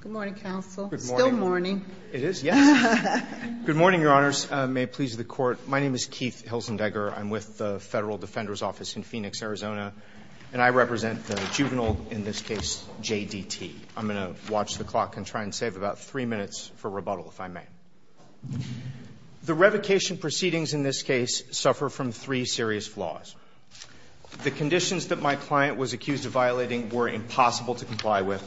Good morning, counsel. Good morning. It's still morning. It is, yes. Good morning, Your Honors. May it please the Court. My name is Keith Hilsendegger. I'm with the Federal Defender's Office in Phoenix, Arizona. And I represent the juvenile, in this case, JDT. I'm going to watch the clock and try and save about three minutes for rebuttal, if I may. The revocation proceedings in this case suffer from three serious flaws. The conditions that my client was accused of violating were impossible to comply with.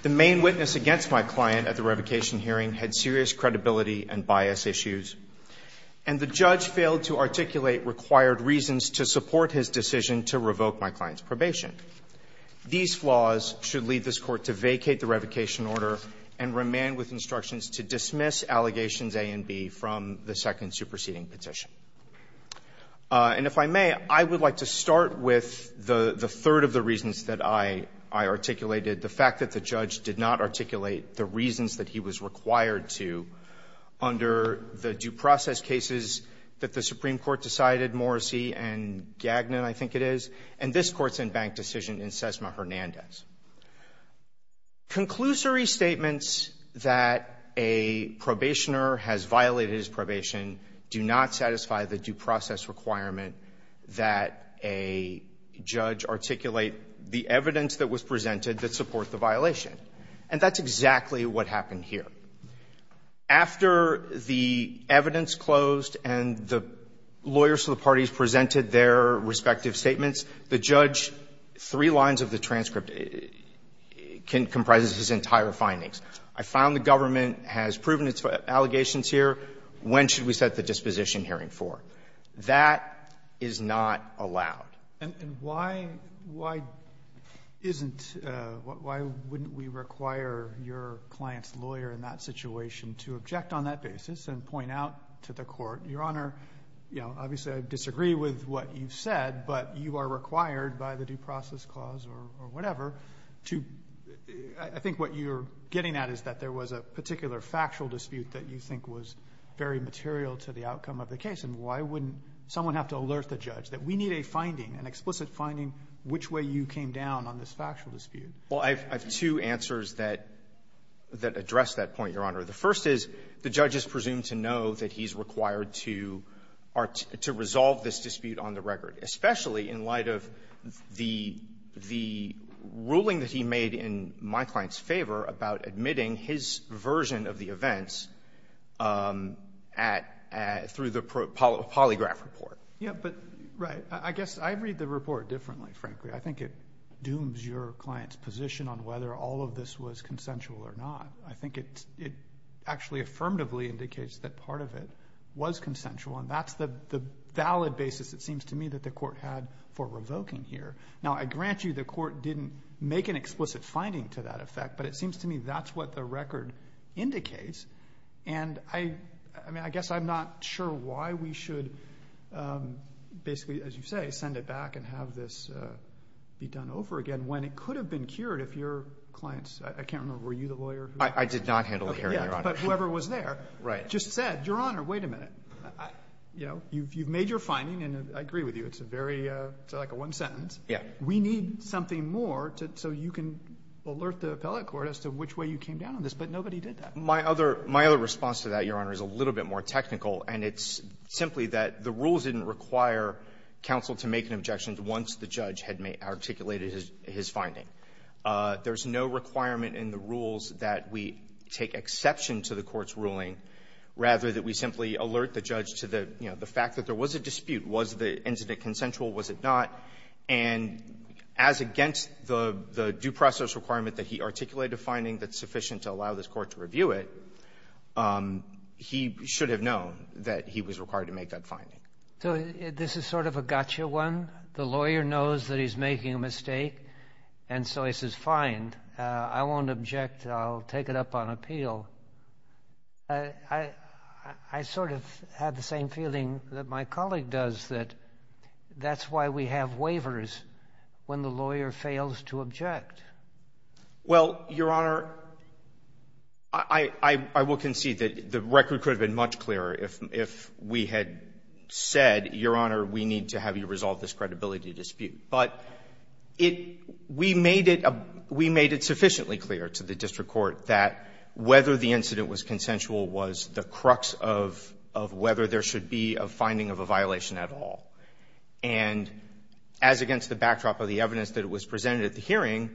The main witness against my client at the revocation hearing had serious credibility and bias issues. And the judge failed to articulate required reasons to support his decision to revoke my client's probation. These flaws should lead this Court to vacate the revocation order and remain with instructions to dismiss allegations A and B from the second superseding petition. And if I may, I would like to start with the third of the reasons that I articulated. The fact that the judge did not articulate the reasons that he was required to under the due process cases that the Supreme Court decided, Morrissey and Gagnon, I think it is. And this Court's in-bank decision in Sesma Hernandez. Conclusory statements that a probationer has violated his probation do not satisfy the due process requirement that a judge articulate the evidence that was presented that support the violation. And that's exactly what happened here. After the evidence closed and the lawyers of the parties presented their respective statements, the judge, three lines of the transcript comprises his entire findings. I found the government has proven its allegations here. When should we set the disposition hearing for? That is not allowed. And why isn't, why wouldn't we require your client's lawyer in that situation to object on that basis and point out to the Court, Your Honor, you know, obviously I disagree with what you've said, but you are required by the due process clause or whatever to, I think what you're getting at is that there was a particular factual dispute that you think was very material to the outcome of the case. And why wouldn't someone have to alert the judge that we need a finding, an explicit finding, which way you came down on this factual dispute? Well, I have two answers that address that point, Your Honor. The first is the judge is presumed to know that he's required to resolve this dispute on the record, especially in light of the ruling that he made in my client's favor about admitting his version of the events at, through the polygraph report. Yeah, but right. I guess I read the report differently, frankly. I think it dooms your client's position on whether all of this was consensual or not. I think it actually affirmatively indicates that part of it was consensual, and that's the valid basis, it seems to me, that the Court had for revoking here. Now, I grant you the Court didn't make an explicit finding to that effect, but it seems to me that's what the record indicates. And I mean, I guess I'm not sure why we should basically, as you say, send it back and have this be done over again when it could have been cured if your client's, I can't remember, were you the lawyer? I did not handle the hearing, Your Honor. But whoever was there just said, Your Honor, wait a minute. You know, you've made your finding, and I agree with you. It's a very, it's like a one-sentence. Yeah. We need something more so you can alert the appellate court as to which way you came down on this, but nobody did that. My other response to that, Your Honor, is a little bit more technical, and it's simply that the rules didn't require counsel to make an objection once the judge had articulated his finding. There's no requirement in the rules that we take exception to the court's ruling rather than we simply alert the judge to the, you know, the fact that there was a dispute. Was the incident consensual? Was it not? And as against the due process requirement that he articulated a finding that's sufficient to allow this Court to review it, he should have known that he was required to make that finding. So this is sort of a gotcha one. The lawyer knows that he's making a mistake, and so he says, fine, I won't object. I'll take it up on appeal. I sort of had the same feeling that my colleague does, that that's why we have waivers when the lawyer fails to object. Well, Your Honor, I will concede that the record could have been much clearer if we had said, Your Honor, we need to have you resolve this credibility dispute. But we made it sufficiently clear to the district court that whether the incident was consensual was the crux of whether there should be a finding of a violation at all. And as against the backdrop of the evidence that was presented at the hearing,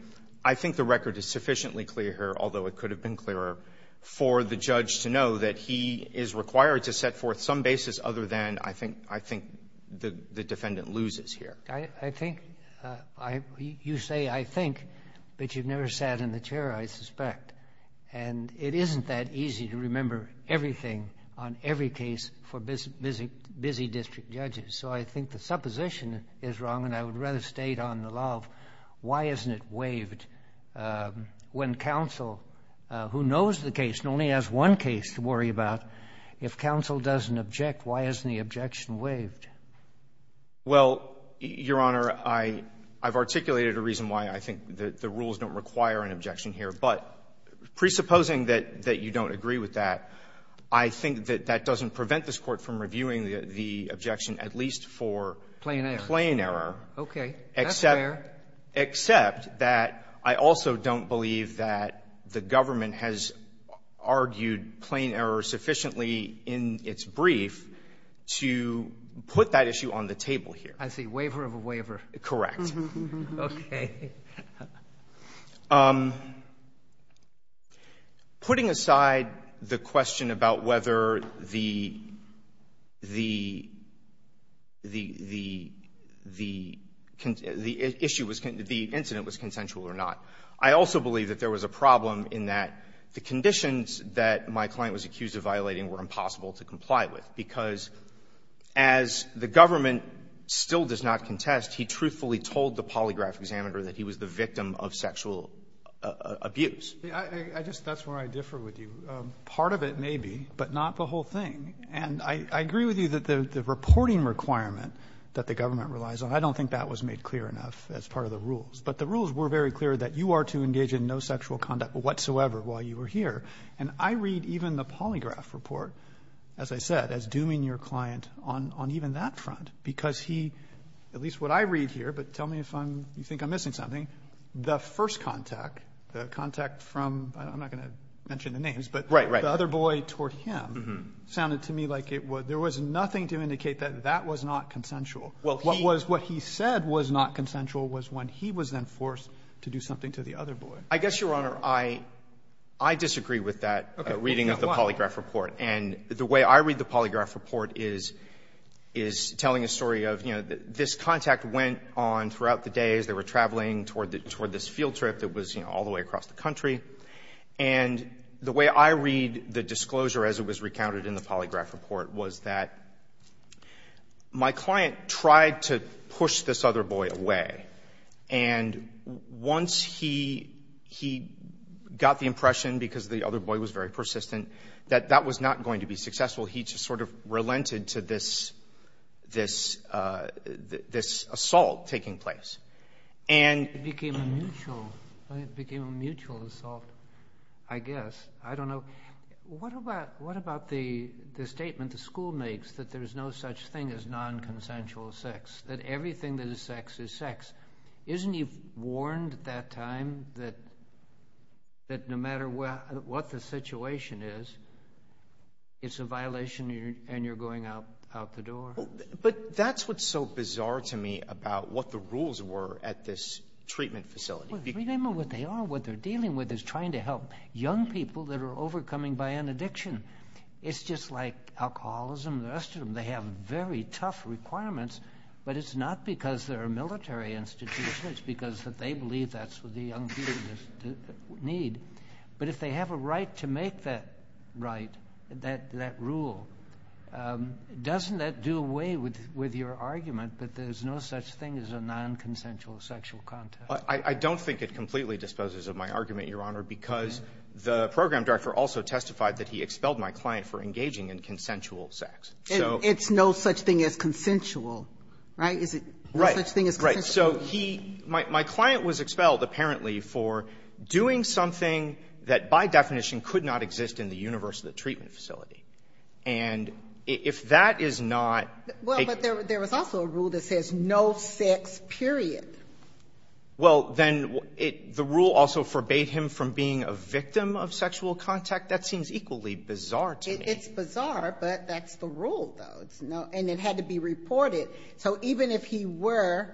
I think the record is sufficiently clearer, although it could have been clearer, for the judge to know that he is required to set forth some basis other than I think the defendant loses here. I think you say I think, but you've never sat in the chair, I suspect. And it isn't that easy to remember everything on every case for busy district judges. So I think the supposition is wrong, and I would rather state on the law of why isn't it waived when counsel, who knows the case and only has one case to worry about, if counsel doesn't object, why isn't the objection waived? Well, Your Honor, I've articulated a reason why I think that the rules don't require an objection here. But presupposing that you don't agree with that, I think that that doesn't prevent this Court from reviewing the objection at least for plain error. Okay. That's fair. Except that I also don't believe that the government has argued plain error sufficiently in its brief to put that issue on the table here. I see. Waiver of a waiver. Correct. Okay. Putting aside the question about whether the issue was — the incident was consensual or not, I also believe that there was a problem in that the conditions that my client was accused of violating were impossible to comply with, because as the government still does not contest, he truthfully told the polygraph examiner that he was the victim of sexual abuse. I just — that's where I differ with you. Part of it may be, but not the whole thing. And I agree with you that the reporting requirement that the government relies on, I don't think that was made clear enough as part of the rules. But the rules were very clear that you are to engage in no sexual conduct whatsoever while you were here. And I read even the polygraph report, as I said, as dooming your client on even that front, because he — at least what I read here, but tell me if I'm — you think I'm missing something. The first contact, the contact from — I'm not going to mention the names, but the other boy toward him sounded to me like it was — there was nothing to indicate that that was not consensual. What he said was not consensual was when he was then forced to do something to the other boy. I guess, Your Honor, I disagree with that reading of the polygraph report. And the way I read the polygraph report is telling a story of, you know, this contact went on throughout the day as they were traveling toward this field trip that was, you know, all the way across the country. And the way I read the disclosure as it was recounted in the polygraph report was that my client tried to push this other boy away. And once he got the impression, because the other boy was very persistent, that that was not going to be successful, he just sort of relented to this assault taking place. And — It became a mutual assault, I guess. I don't know. What about the statement the school makes that there's no such thing as non-consensual sex, that everything that is sex is sex? Isn't he warned at that time that no matter what the situation is, it's a violation and you're going out the door? But that's what's so bizarre to me about what the rules were at this treatment facility. Well, remember what they are. What they're dealing with is trying to help young people that are overcoming by an addiction. It's just like alcoholism and the rest of them. They have very tough requirements, but it's not because they're a military institution. It's because they believe that's what the young people need. But if they have a right to make that right, that rule, doesn't that do away with your argument that there's no such thing as a non-consensual sexual contact? I don't think it completely disposes of my argument, Your Honor, because the program director also testified that he expelled my client for engaging in consensual sex. It's no such thing as consensual, right? Is it no such thing as consensual? Right. So he – my client was expelled, apparently, for doing something that by definition could not exist in the universe of the treatment facility. And if that is not a – Well, but there was also a rule that says no sex, period. Well, then the rule also forbade him from being a victim of sexual contact? That seems equally bizarre to me. It's bizarre, but that's the rule, though. And it had to be reported. So even if he were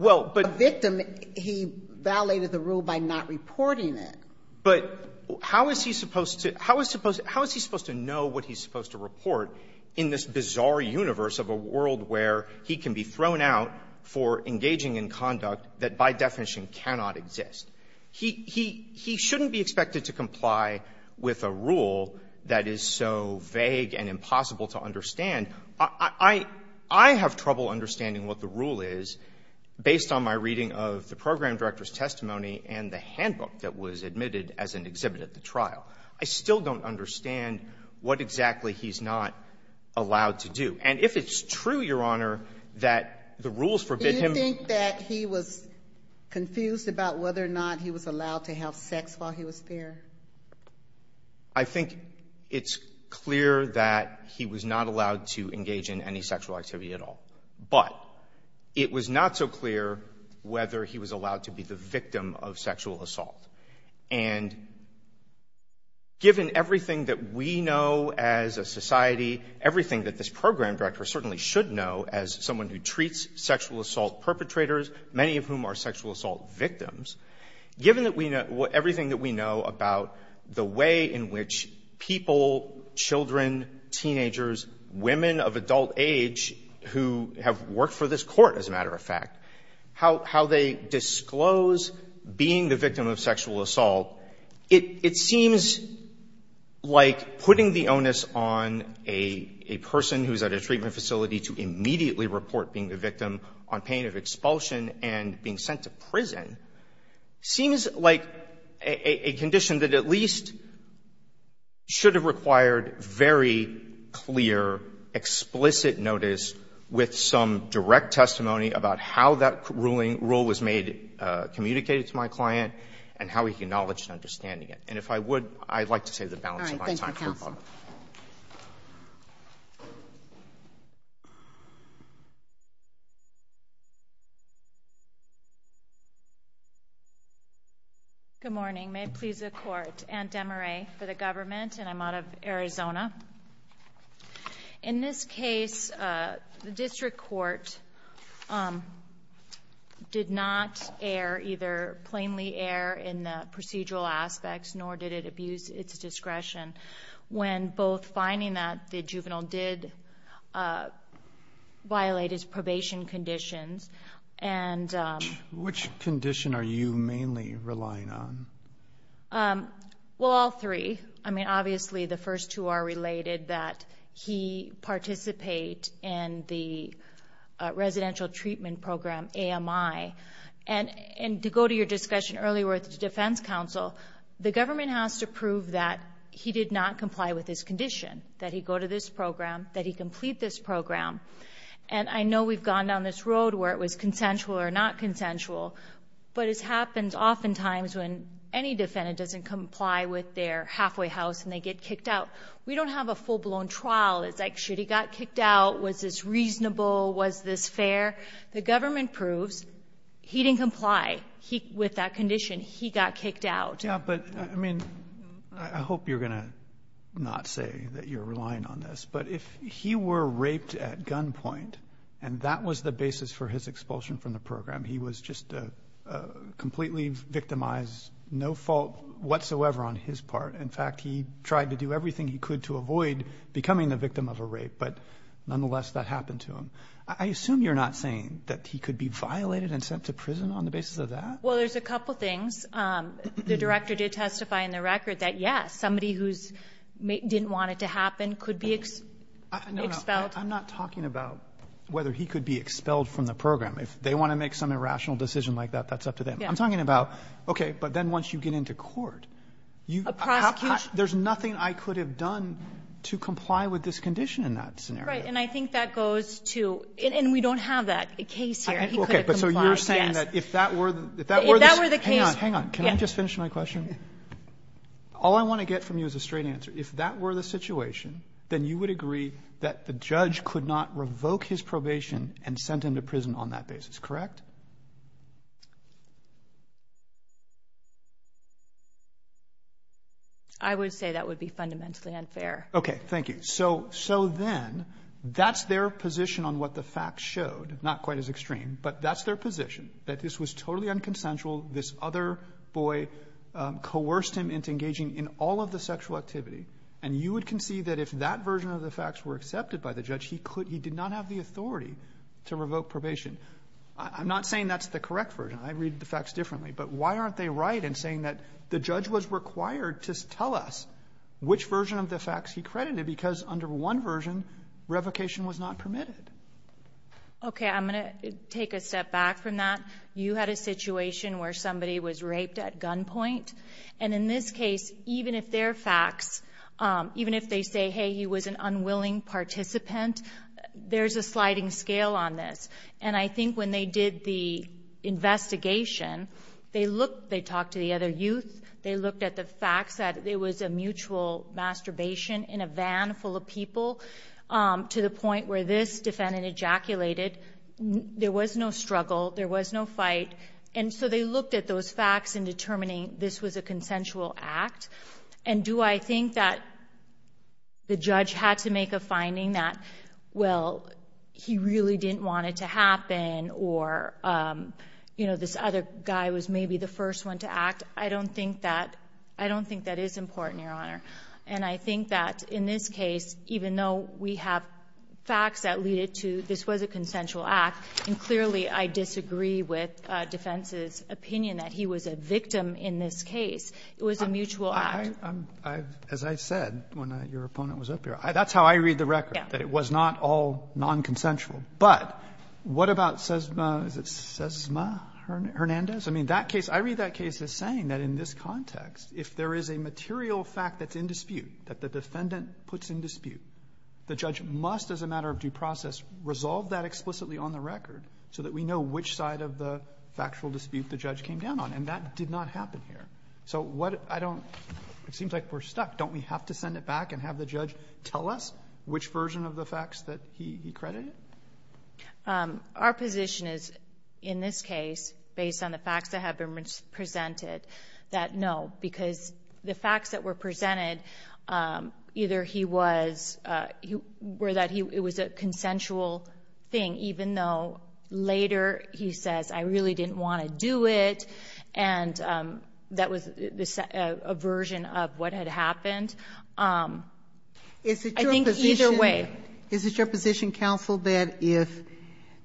a victim, he violated the rule by not reporting it. But how is he supposed to – how is he supposed to know what he's supposed to report in this bizarre universe of a world where he can be thrown out for engaging in conduct that by definition cannot exist? He shouldn't be expected to comply with a rule that is so vague and impossible to understand. I have trouble understanding what the rule is based on my reading of the program director's testimony and the handbook that was admitted as an exhibit at the trial. I still don't understand what exactly he's not allowed to do. And if it's true, Your Honor, that the rules forbid him – to have sex while he was there? I think it's clear that he was not allowed to engage in any sexual activity at all. But it was not so clear whether he was allowed to be the victim of sexual assault. And given everything that we know as a society, everything that this program director certainly should know as someone who treats sexual assault perpetrators, many of whom are sexual assault victims, given that we know – everything that we know about the way in which people, children, teenagers, women of adult age who have worked for this Court, as a matter of fact, how they disclose being the victim of sexual assault, it seems like putting the onus on a person who is at a prison seems like a condition that at least should have required very clear, explicit notice with some direct testimony about how that ruling – rule was made communicated to my client and how he acknowledged understanding it. And if I would, I'd like to save the balance of my time. Thank you, counsel. Good morning. May it please the Court. Anne Demarais for the government, and I'm out of Arizona. In this case, the district court did not err, either plainly err in the procedural aspects, nor did it abuse its discretion when both finding that the juvenile did violate his probation conditions and – Which condition are you mainly relying on? Well, all three. I mean, obviously, the first two are related, that he participate in the residential treatment program, AMI. And to go to your discussion earlier with defense counsel, the government has to prove that he did not comply with his condition, that he go to this program, that he complete this program. And I know we've gone down this road where it was consensual or not consensual, but it happens oftentimes when any defendant doesn't comply with their halfway house and they get kicked out. We don't have a full-blown trial. It's like, should he got kicked out? Was this reasonable? Was this fair? The government proves he didn't comply with that condition. He got kicked out. Yeah, but, I mean, I hope you're going to not say that you're relying on this, but if he were raped at gunpoint and that was the basis for his expulsion from the program, he was just completely victimized, no fault whatsoever on his part. In fact, he tried to do everything he could to avoid becoming the victim of a rape, but nonetheless, that happened to him. I assume you're not saying that he could be violated and sent to prison on the basis of that? Well, there's a couple things. The Director did testify in the record that, yes, somebody who didn't want it to happen could be expelled. No, no. I'm not talking about whether he could be expelled from the program. If they want to make some irrational decision like that, that's up to them. I'm talking about, okay, but then once you get into court, you have to have to have that scenario. Right, and I think that goes to, and we don't have that case here. He could have complied, yes. Okay, but so you're saying that if that were the case. If that were the case. Hang on, hang on. Can I just finish my question? All I want to get from you is a straight answer. If that were the situation, then you would agree that the judge could not revoke his probation and send him to prison on that basis, correct? I would say that would be fundamentally unfair. Okay, thank you. So then that's their position on what the facts showed, not quite as extreme, but that's their position, that this was totally unconsensual. This other boy coerced him into engaging in all of the sexual activity, and you would concede that if that version of the facts were accepted by the judge, he could he did not have the authority to revoke probation. I'm not saying that's the correct version. I read the facts differently. But why aren't they right in saying that the judge was required to tell us which version of the facts he credited? Because under one version, revocation was not permitted. Okay. I'm going to take a step back from that. You had a situation where somebody was raped at gunpoint. And in this case, even if they're facts, even if they say, hey, he was an unwilling participant, there's a sliding scale on this. And I think when they did the investigation, they looked, they talked to the other people, to the point where this defendant ejaculated. There was no struggle. There was no fight. And so they looked at those facts in determining this was a consensual act. And do I think that the judge had to make a finding that, well, he really didn't want it to happen, or, you know, this other guy was maybe the first one to act? I don't think that is important, Your Honor. And I think that in this case, even though we have facts that lead it to this was a consensual act, and clearly I disagree with defense's opinion that he was a victim in this case, it was a mutual act. As I said when your opponent was up here, that's how I read the record. Yeah. That it was not all nonconsensual. But what about Sesma? Is it Sesma Hernandez? I mean, that case, I read that case as saying that in this context, if there is a material fact that's in dispute, that the defendant puts in dispute, the judge must, as a matter of due process, resolve that explicitly on the record so that we know which side of the factual dispute the judge came down on. And that did not happen here. So what — I don't — it seems like we're stuck. Don't we have to send it back and have the judge tell us which version of the facts that he credited? Our position is, in this case, based on the facts that have been presented, that no, because the facts that were presented, either he was — were that it was a consensual thing, even though later he says, I really didn't want to do it, and that was a version of what had happened. I think either way. Is it your position, counsel, that if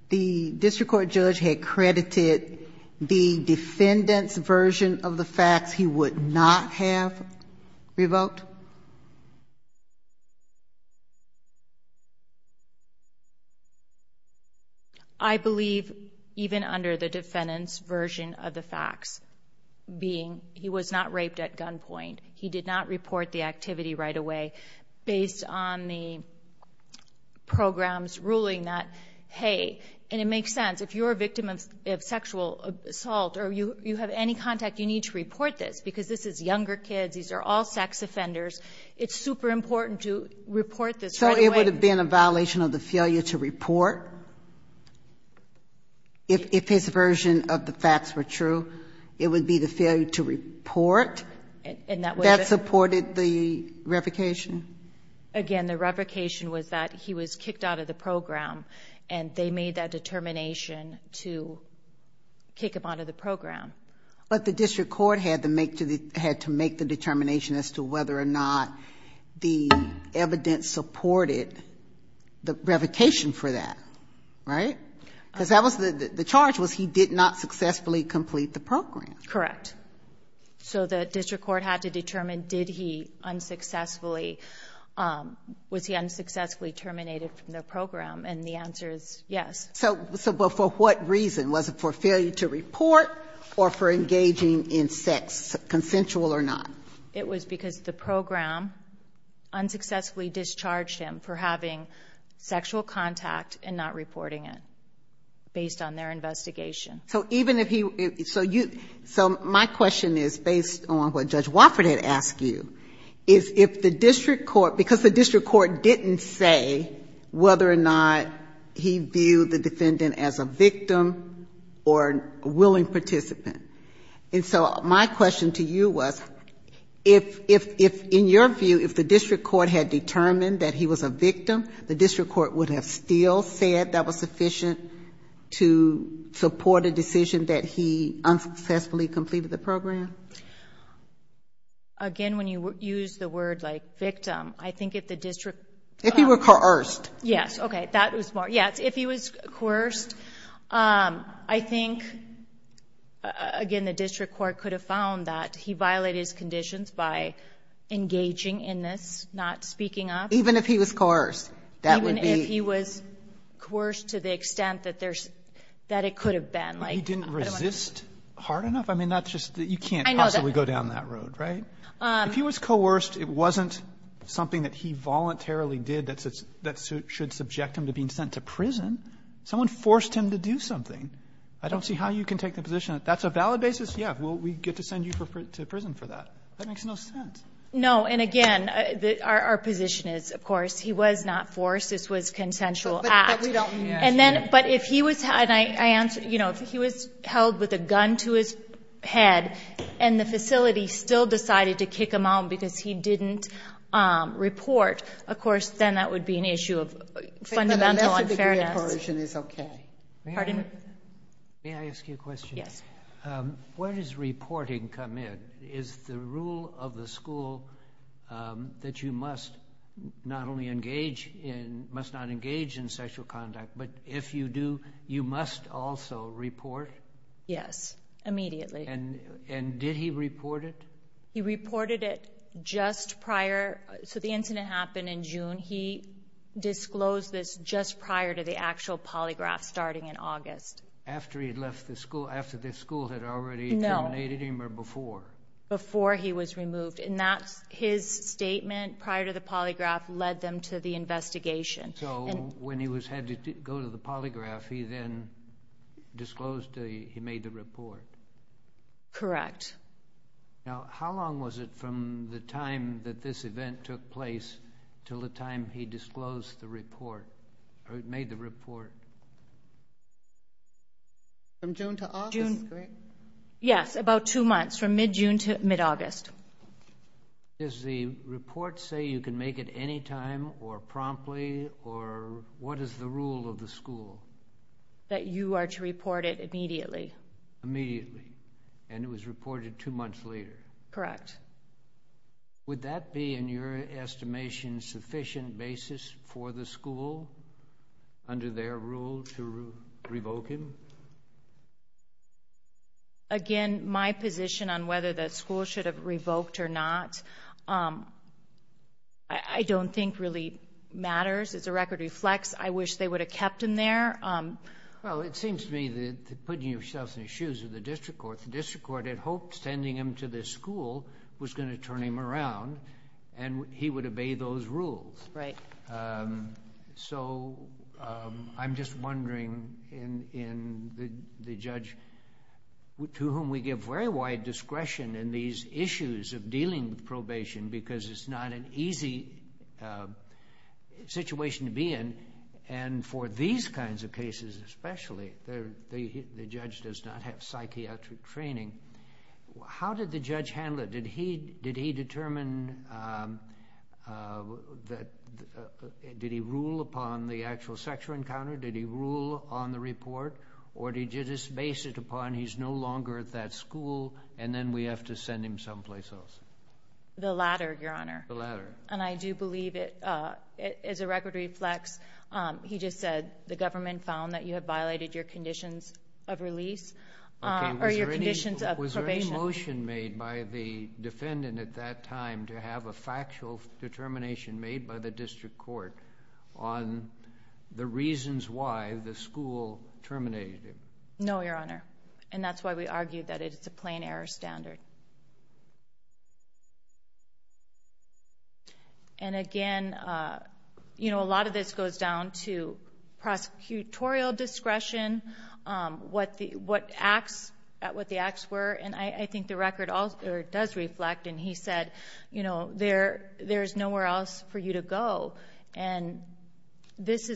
the district court judge had credited the defendant's version of the facts, he would not have revoked? I believe, even under the defendant's version of the facts, being he was not raped at gunpoint, he did not report the activity right away, based on the program's ruling that, hey — and it makes sense. If you're a victim of sexual assault or you have any contact, you need to report this, because this is younger kids, these are all sex offenders. It's super important to report this right away. So it would have been a violation of the failure to report? If his version of the facts were true, it would be the failure to report that supported the revocation? Again, the revocation was that he was kicked out of the program, and they made that determination to kick him out of the program. But the district court had to make the determination as to whether or not the evidence supported the revocation for that, right? Because the charge was he did not successfully complete the program. Correct. So the district court had to determine, did he unsuccessfully — was he unsuccessfully terminated from the program? And the answer is yes. So, but for what reason? Was it for failure to report or for engaging in sex, consensual or not? It was because the program unsuccessfully discharged him for having sexual contact and not reporting it, based on their investigation. So my question is, based on what Judge Wofford had asked you, is if the district court — because the district court didn't say whether or not he viewed the defendant as a victim or a willing participant. And so my question to you was, if, in your view, if the district court had determined that he was a victim, the district court would have still said that was sufficient to support a decision that he unsuccessfully completed the program? Again, when you use the word, like, victim, I think if the district — Yes. Okay. That was more — yes. If he was coerced, I think, again, the district court could have found that he violated his conditions by engaging in this, not speaking up. Even if he was coerced, that would be — Even if he was coerced to the extent that there's — that it could have been. He didn't resist hard enough? I mean, that's just — you can't possibly go down that road, right? I know that. If he was coerced, it wasn't something that he voluntarily did that should subject him to being sent to prison. Someone forced him to do something. I don't see how you can take the position that that's a valid basis. Yeah. Well, we get to send you to prison for that. That makes no sense. No. And again, our position is, of course, he was not forced. This was consensual act. But we don't mean that. And then — but if he was — and I answer — you know, if he was held with a gun to his head and the facility still decided to kick him out because he didn't report, of course, then that would be an issue of fundamental unfairness. But unless the degree of coercion is okay. Pardon? May I ask you a question? Yes. Where does reporting come in? Is the rule of the school that you must not only engage in — must not engage in sexual conduct, but if you do, you must also report? Yes. Immediately. And did he report it? He reported it just prior — so the incident happened in June. He disclosed this just prior to the actual polygraph starting in August. After he had left the school — after the school had already terminated him or before? No. Before he was removed. And that's — his statement prior to the polygraph led them to the investigation. So when he had to go to the polygraph, he then disclosed — he made the report? Correct. Now, how long was it from the time that this event took place till the time he disclosed the report — or made the report? From June to August, correct? Yes. About two months. From mid-June to mid-August. Does the report say you can make it any time or promptly, or what is the rule of the school? That you are to report it immediately. Immediately. And it was reported two months later? Correct. Would that be, in your estimation, sufficient basis for the school, under their rule, to revoke him? Again, my position on whether the school should have revoked or not, I don't think really matters. It's a record we flex. I wish they would have kept him there. Well, it seems to me that you're putting yourself in the shoes of the district court. The district court had hoped sending him to this school was going to turn him around, and he would obey those rules. Right. So, I'm just wondering, in the judge to whom we give very wide discretion in these issues of dealing with probation, because it's not an easy situation to be in, and for these kinds of cases especially, the judge does not have psychiatric training. How did the judge handle it? Did he determine, did he rule upon the actual sexual encounter? Did he rule on the report? Or did he just base it upon he's no longer at that school, and then we have to send him someplace else? The latter, Your Honor. The latter. And I do believe it is a record we flex. He just said the government found that you have Was there any motion made by the defendant at that time to have a factual determination made by the district court on the reasons why the school terminated him? No, Your Honor. And that's why we argue that it's a plain error standard. And again, you know, a lot of this goes down to prosecutorial discretion, what the acts were, and I think the record does reflect. And he said, you know, there's nowhere else for you to go. And this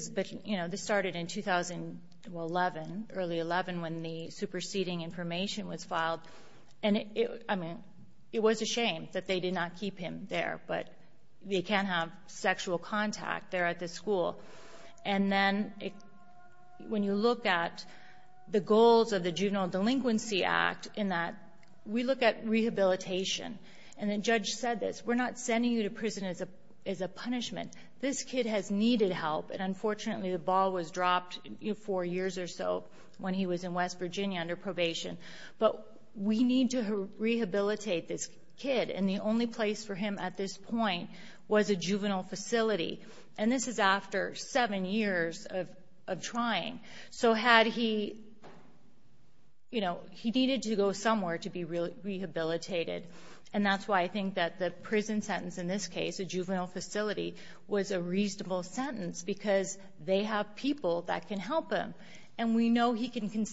started in 2011, early 11, when the superseding information was filed. And it was a shame that they did not keep him there. But they can't have sexual contact there at the school. And then when you look at the goals of the Juvenile Delinquency Act, in that we look at rehabilitation, and the judge said this, we're not sending you to prison as a punishment. This kid has needed help, and unfortunately the ball was dropped four years or so when he was in West Virginia under probation. But we need to rehabilitate this kid. And the only place for him at this point was a juvenile facility. And this is after seven years of trying. So had he, you know, he needed to go somewhere to be rehabilitated. And that's why I think that the prison sentence in this case, a juvenile facility, was a reasonable sentence because they have people that can help him. And we know he can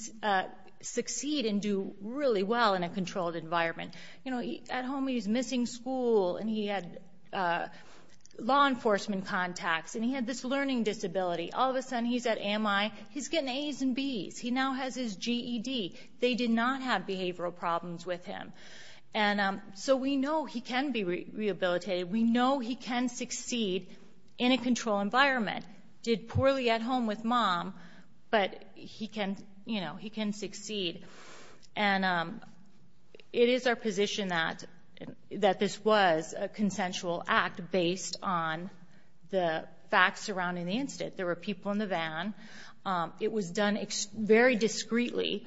succeed and do really well in a controlled environment. You know, at home he was missing school, and he had law enforcement contacts, and he had this learning disability. All of a sudden he's at AMI. He's getting A's and B's. He now has his GED. They did not have behavioral problems with him. And so we know he can be rehabilitated. We know he can succeed in a controlled environment. Did poorly at home with mom, but he can, you know, he can succeed. And it is our position that this was a consensual act based on the facts surrounding the incident. There were people in the van. It was done very discreetly,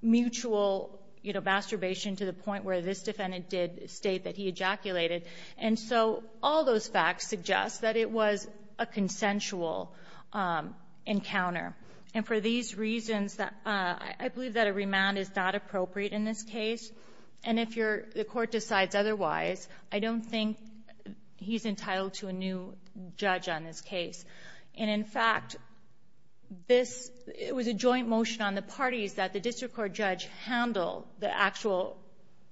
mutual masturbation to the point where this defendant did state that he ejaculated. And so all those facts suggest that it was a consensual encounter. And for these reasons, I believe that a remand is not appropriate in this case. And if the Court decides otherwise, I don't think he's entitled to a new judge on this case. And, in fact, this was a joint motion on the parties that the district court judge handle the actual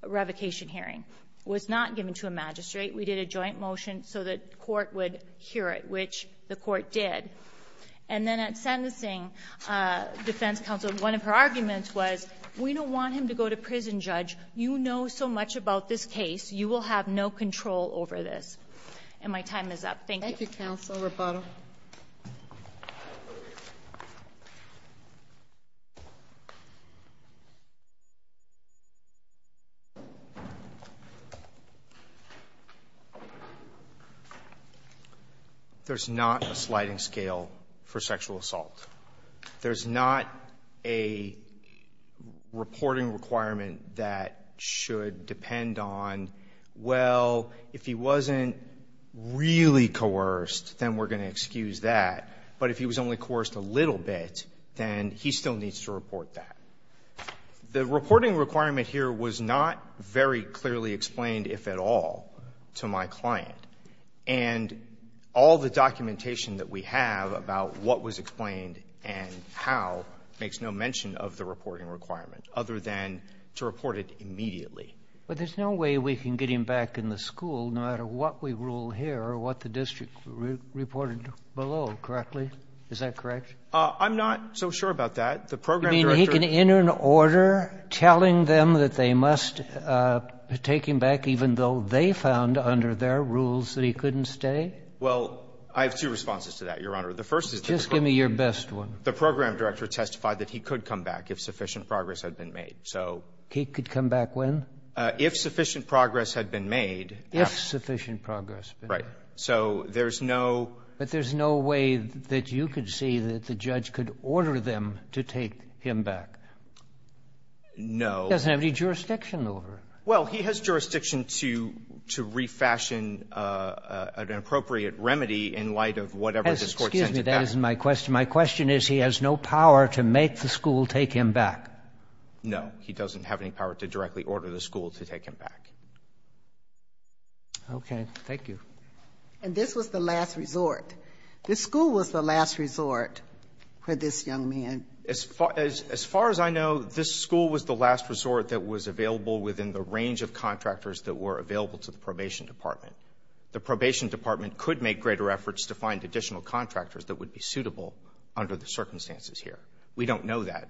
revocation hearing. It was not given to a magistrate. We did a joint motion so the Court would hear it, which the Court did. And then at sentencing, defense counsel, one of her arguments was, we don't want him to go to prison, Judge. You know so much about this case. You will have no control over this. And my time is up. Thank you. Thank you, Counsel Roboto. Thank you. There's not a sliding scale for sexual assault. There's not a reporting requirement that should depend on, well, if he wasn't really coerced, then we're going to excuse that. But if he was only coerced a little bit, then he still needs to report that. The reporting requirement here was not very clearly explained, if at all, to my client. And all the documentation that we have about what was explained and how makes no mention of the reporting requirement other than to report it immediately. But there's no way we can get him back in the school, no matter what we rule here or what the district reported below, correctly? Is that correct? I'm not so sure about that. The program director ---- You mean he can enter an order telling them that they must take him back even though they found under their rules that he couldn't stay? Well, I have two responses to that, Your Honor. The first is that the program ---- Just give me your best one. The program director testified that he could come back if sufficient progress had been made. So ---- He could come back when? If sufficient progress had been made. If sufficient progress had been made. Right. So there's no ---- But there's no way that you could see that the judge could order them to take him back. No. He doesn't have any jurisdiction over it. Well, he has jurisdiction to refashion an appropriate remedy in light of whatever this Court says. Excuse me. That isn't my question. My question is he has no power to make the school take him back. No. He doesn't have any power to directly order the school to take him back. Okay. Thank you. And this was the last resort. This school was the last resort for this young man. As far as I know, this school was the last resort that was available within the range of contractors that were available to the probation department. The probation department could make greater efforts to find additional contractors that would be suitable under the circumstances here. We don't know that.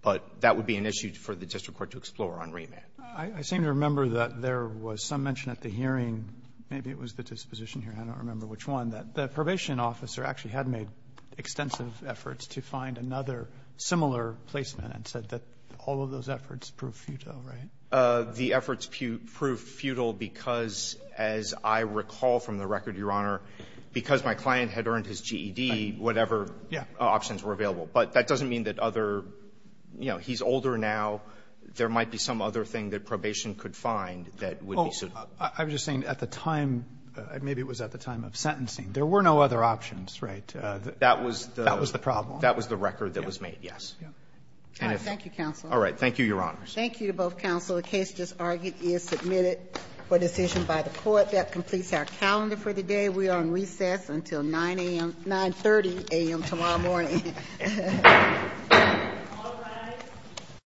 But that would be an issue for the district court to explore on remand. I seem to remember that there was some mention at the hearing, maybe it was the disposition here, I don't remember which one, that the probation officer actually had made extensive efforts to find another similar placement and said that all of those efforts proved futile, right? The efforts proved futile because, as I recall from the record, Your Honor, because my client had earned his GED, whatever options were available. But that doesn't mean that other, you know, he's older now. There might be some other thing that probation could find that would be suitable. I'm just saying at the time, maybe it was at the time of sentencing, there were no other options, right? That was the problem. That was the record that was made, yes. All right. Thank you, counsel. All right. Thank you, Your Honors. Thank you to both counsel. The case just argued is submitted for decision by the court. That completes our calendar for the day. We are on recess until 9 a.m. 9.30 a.m. tomorrow morning. All rise.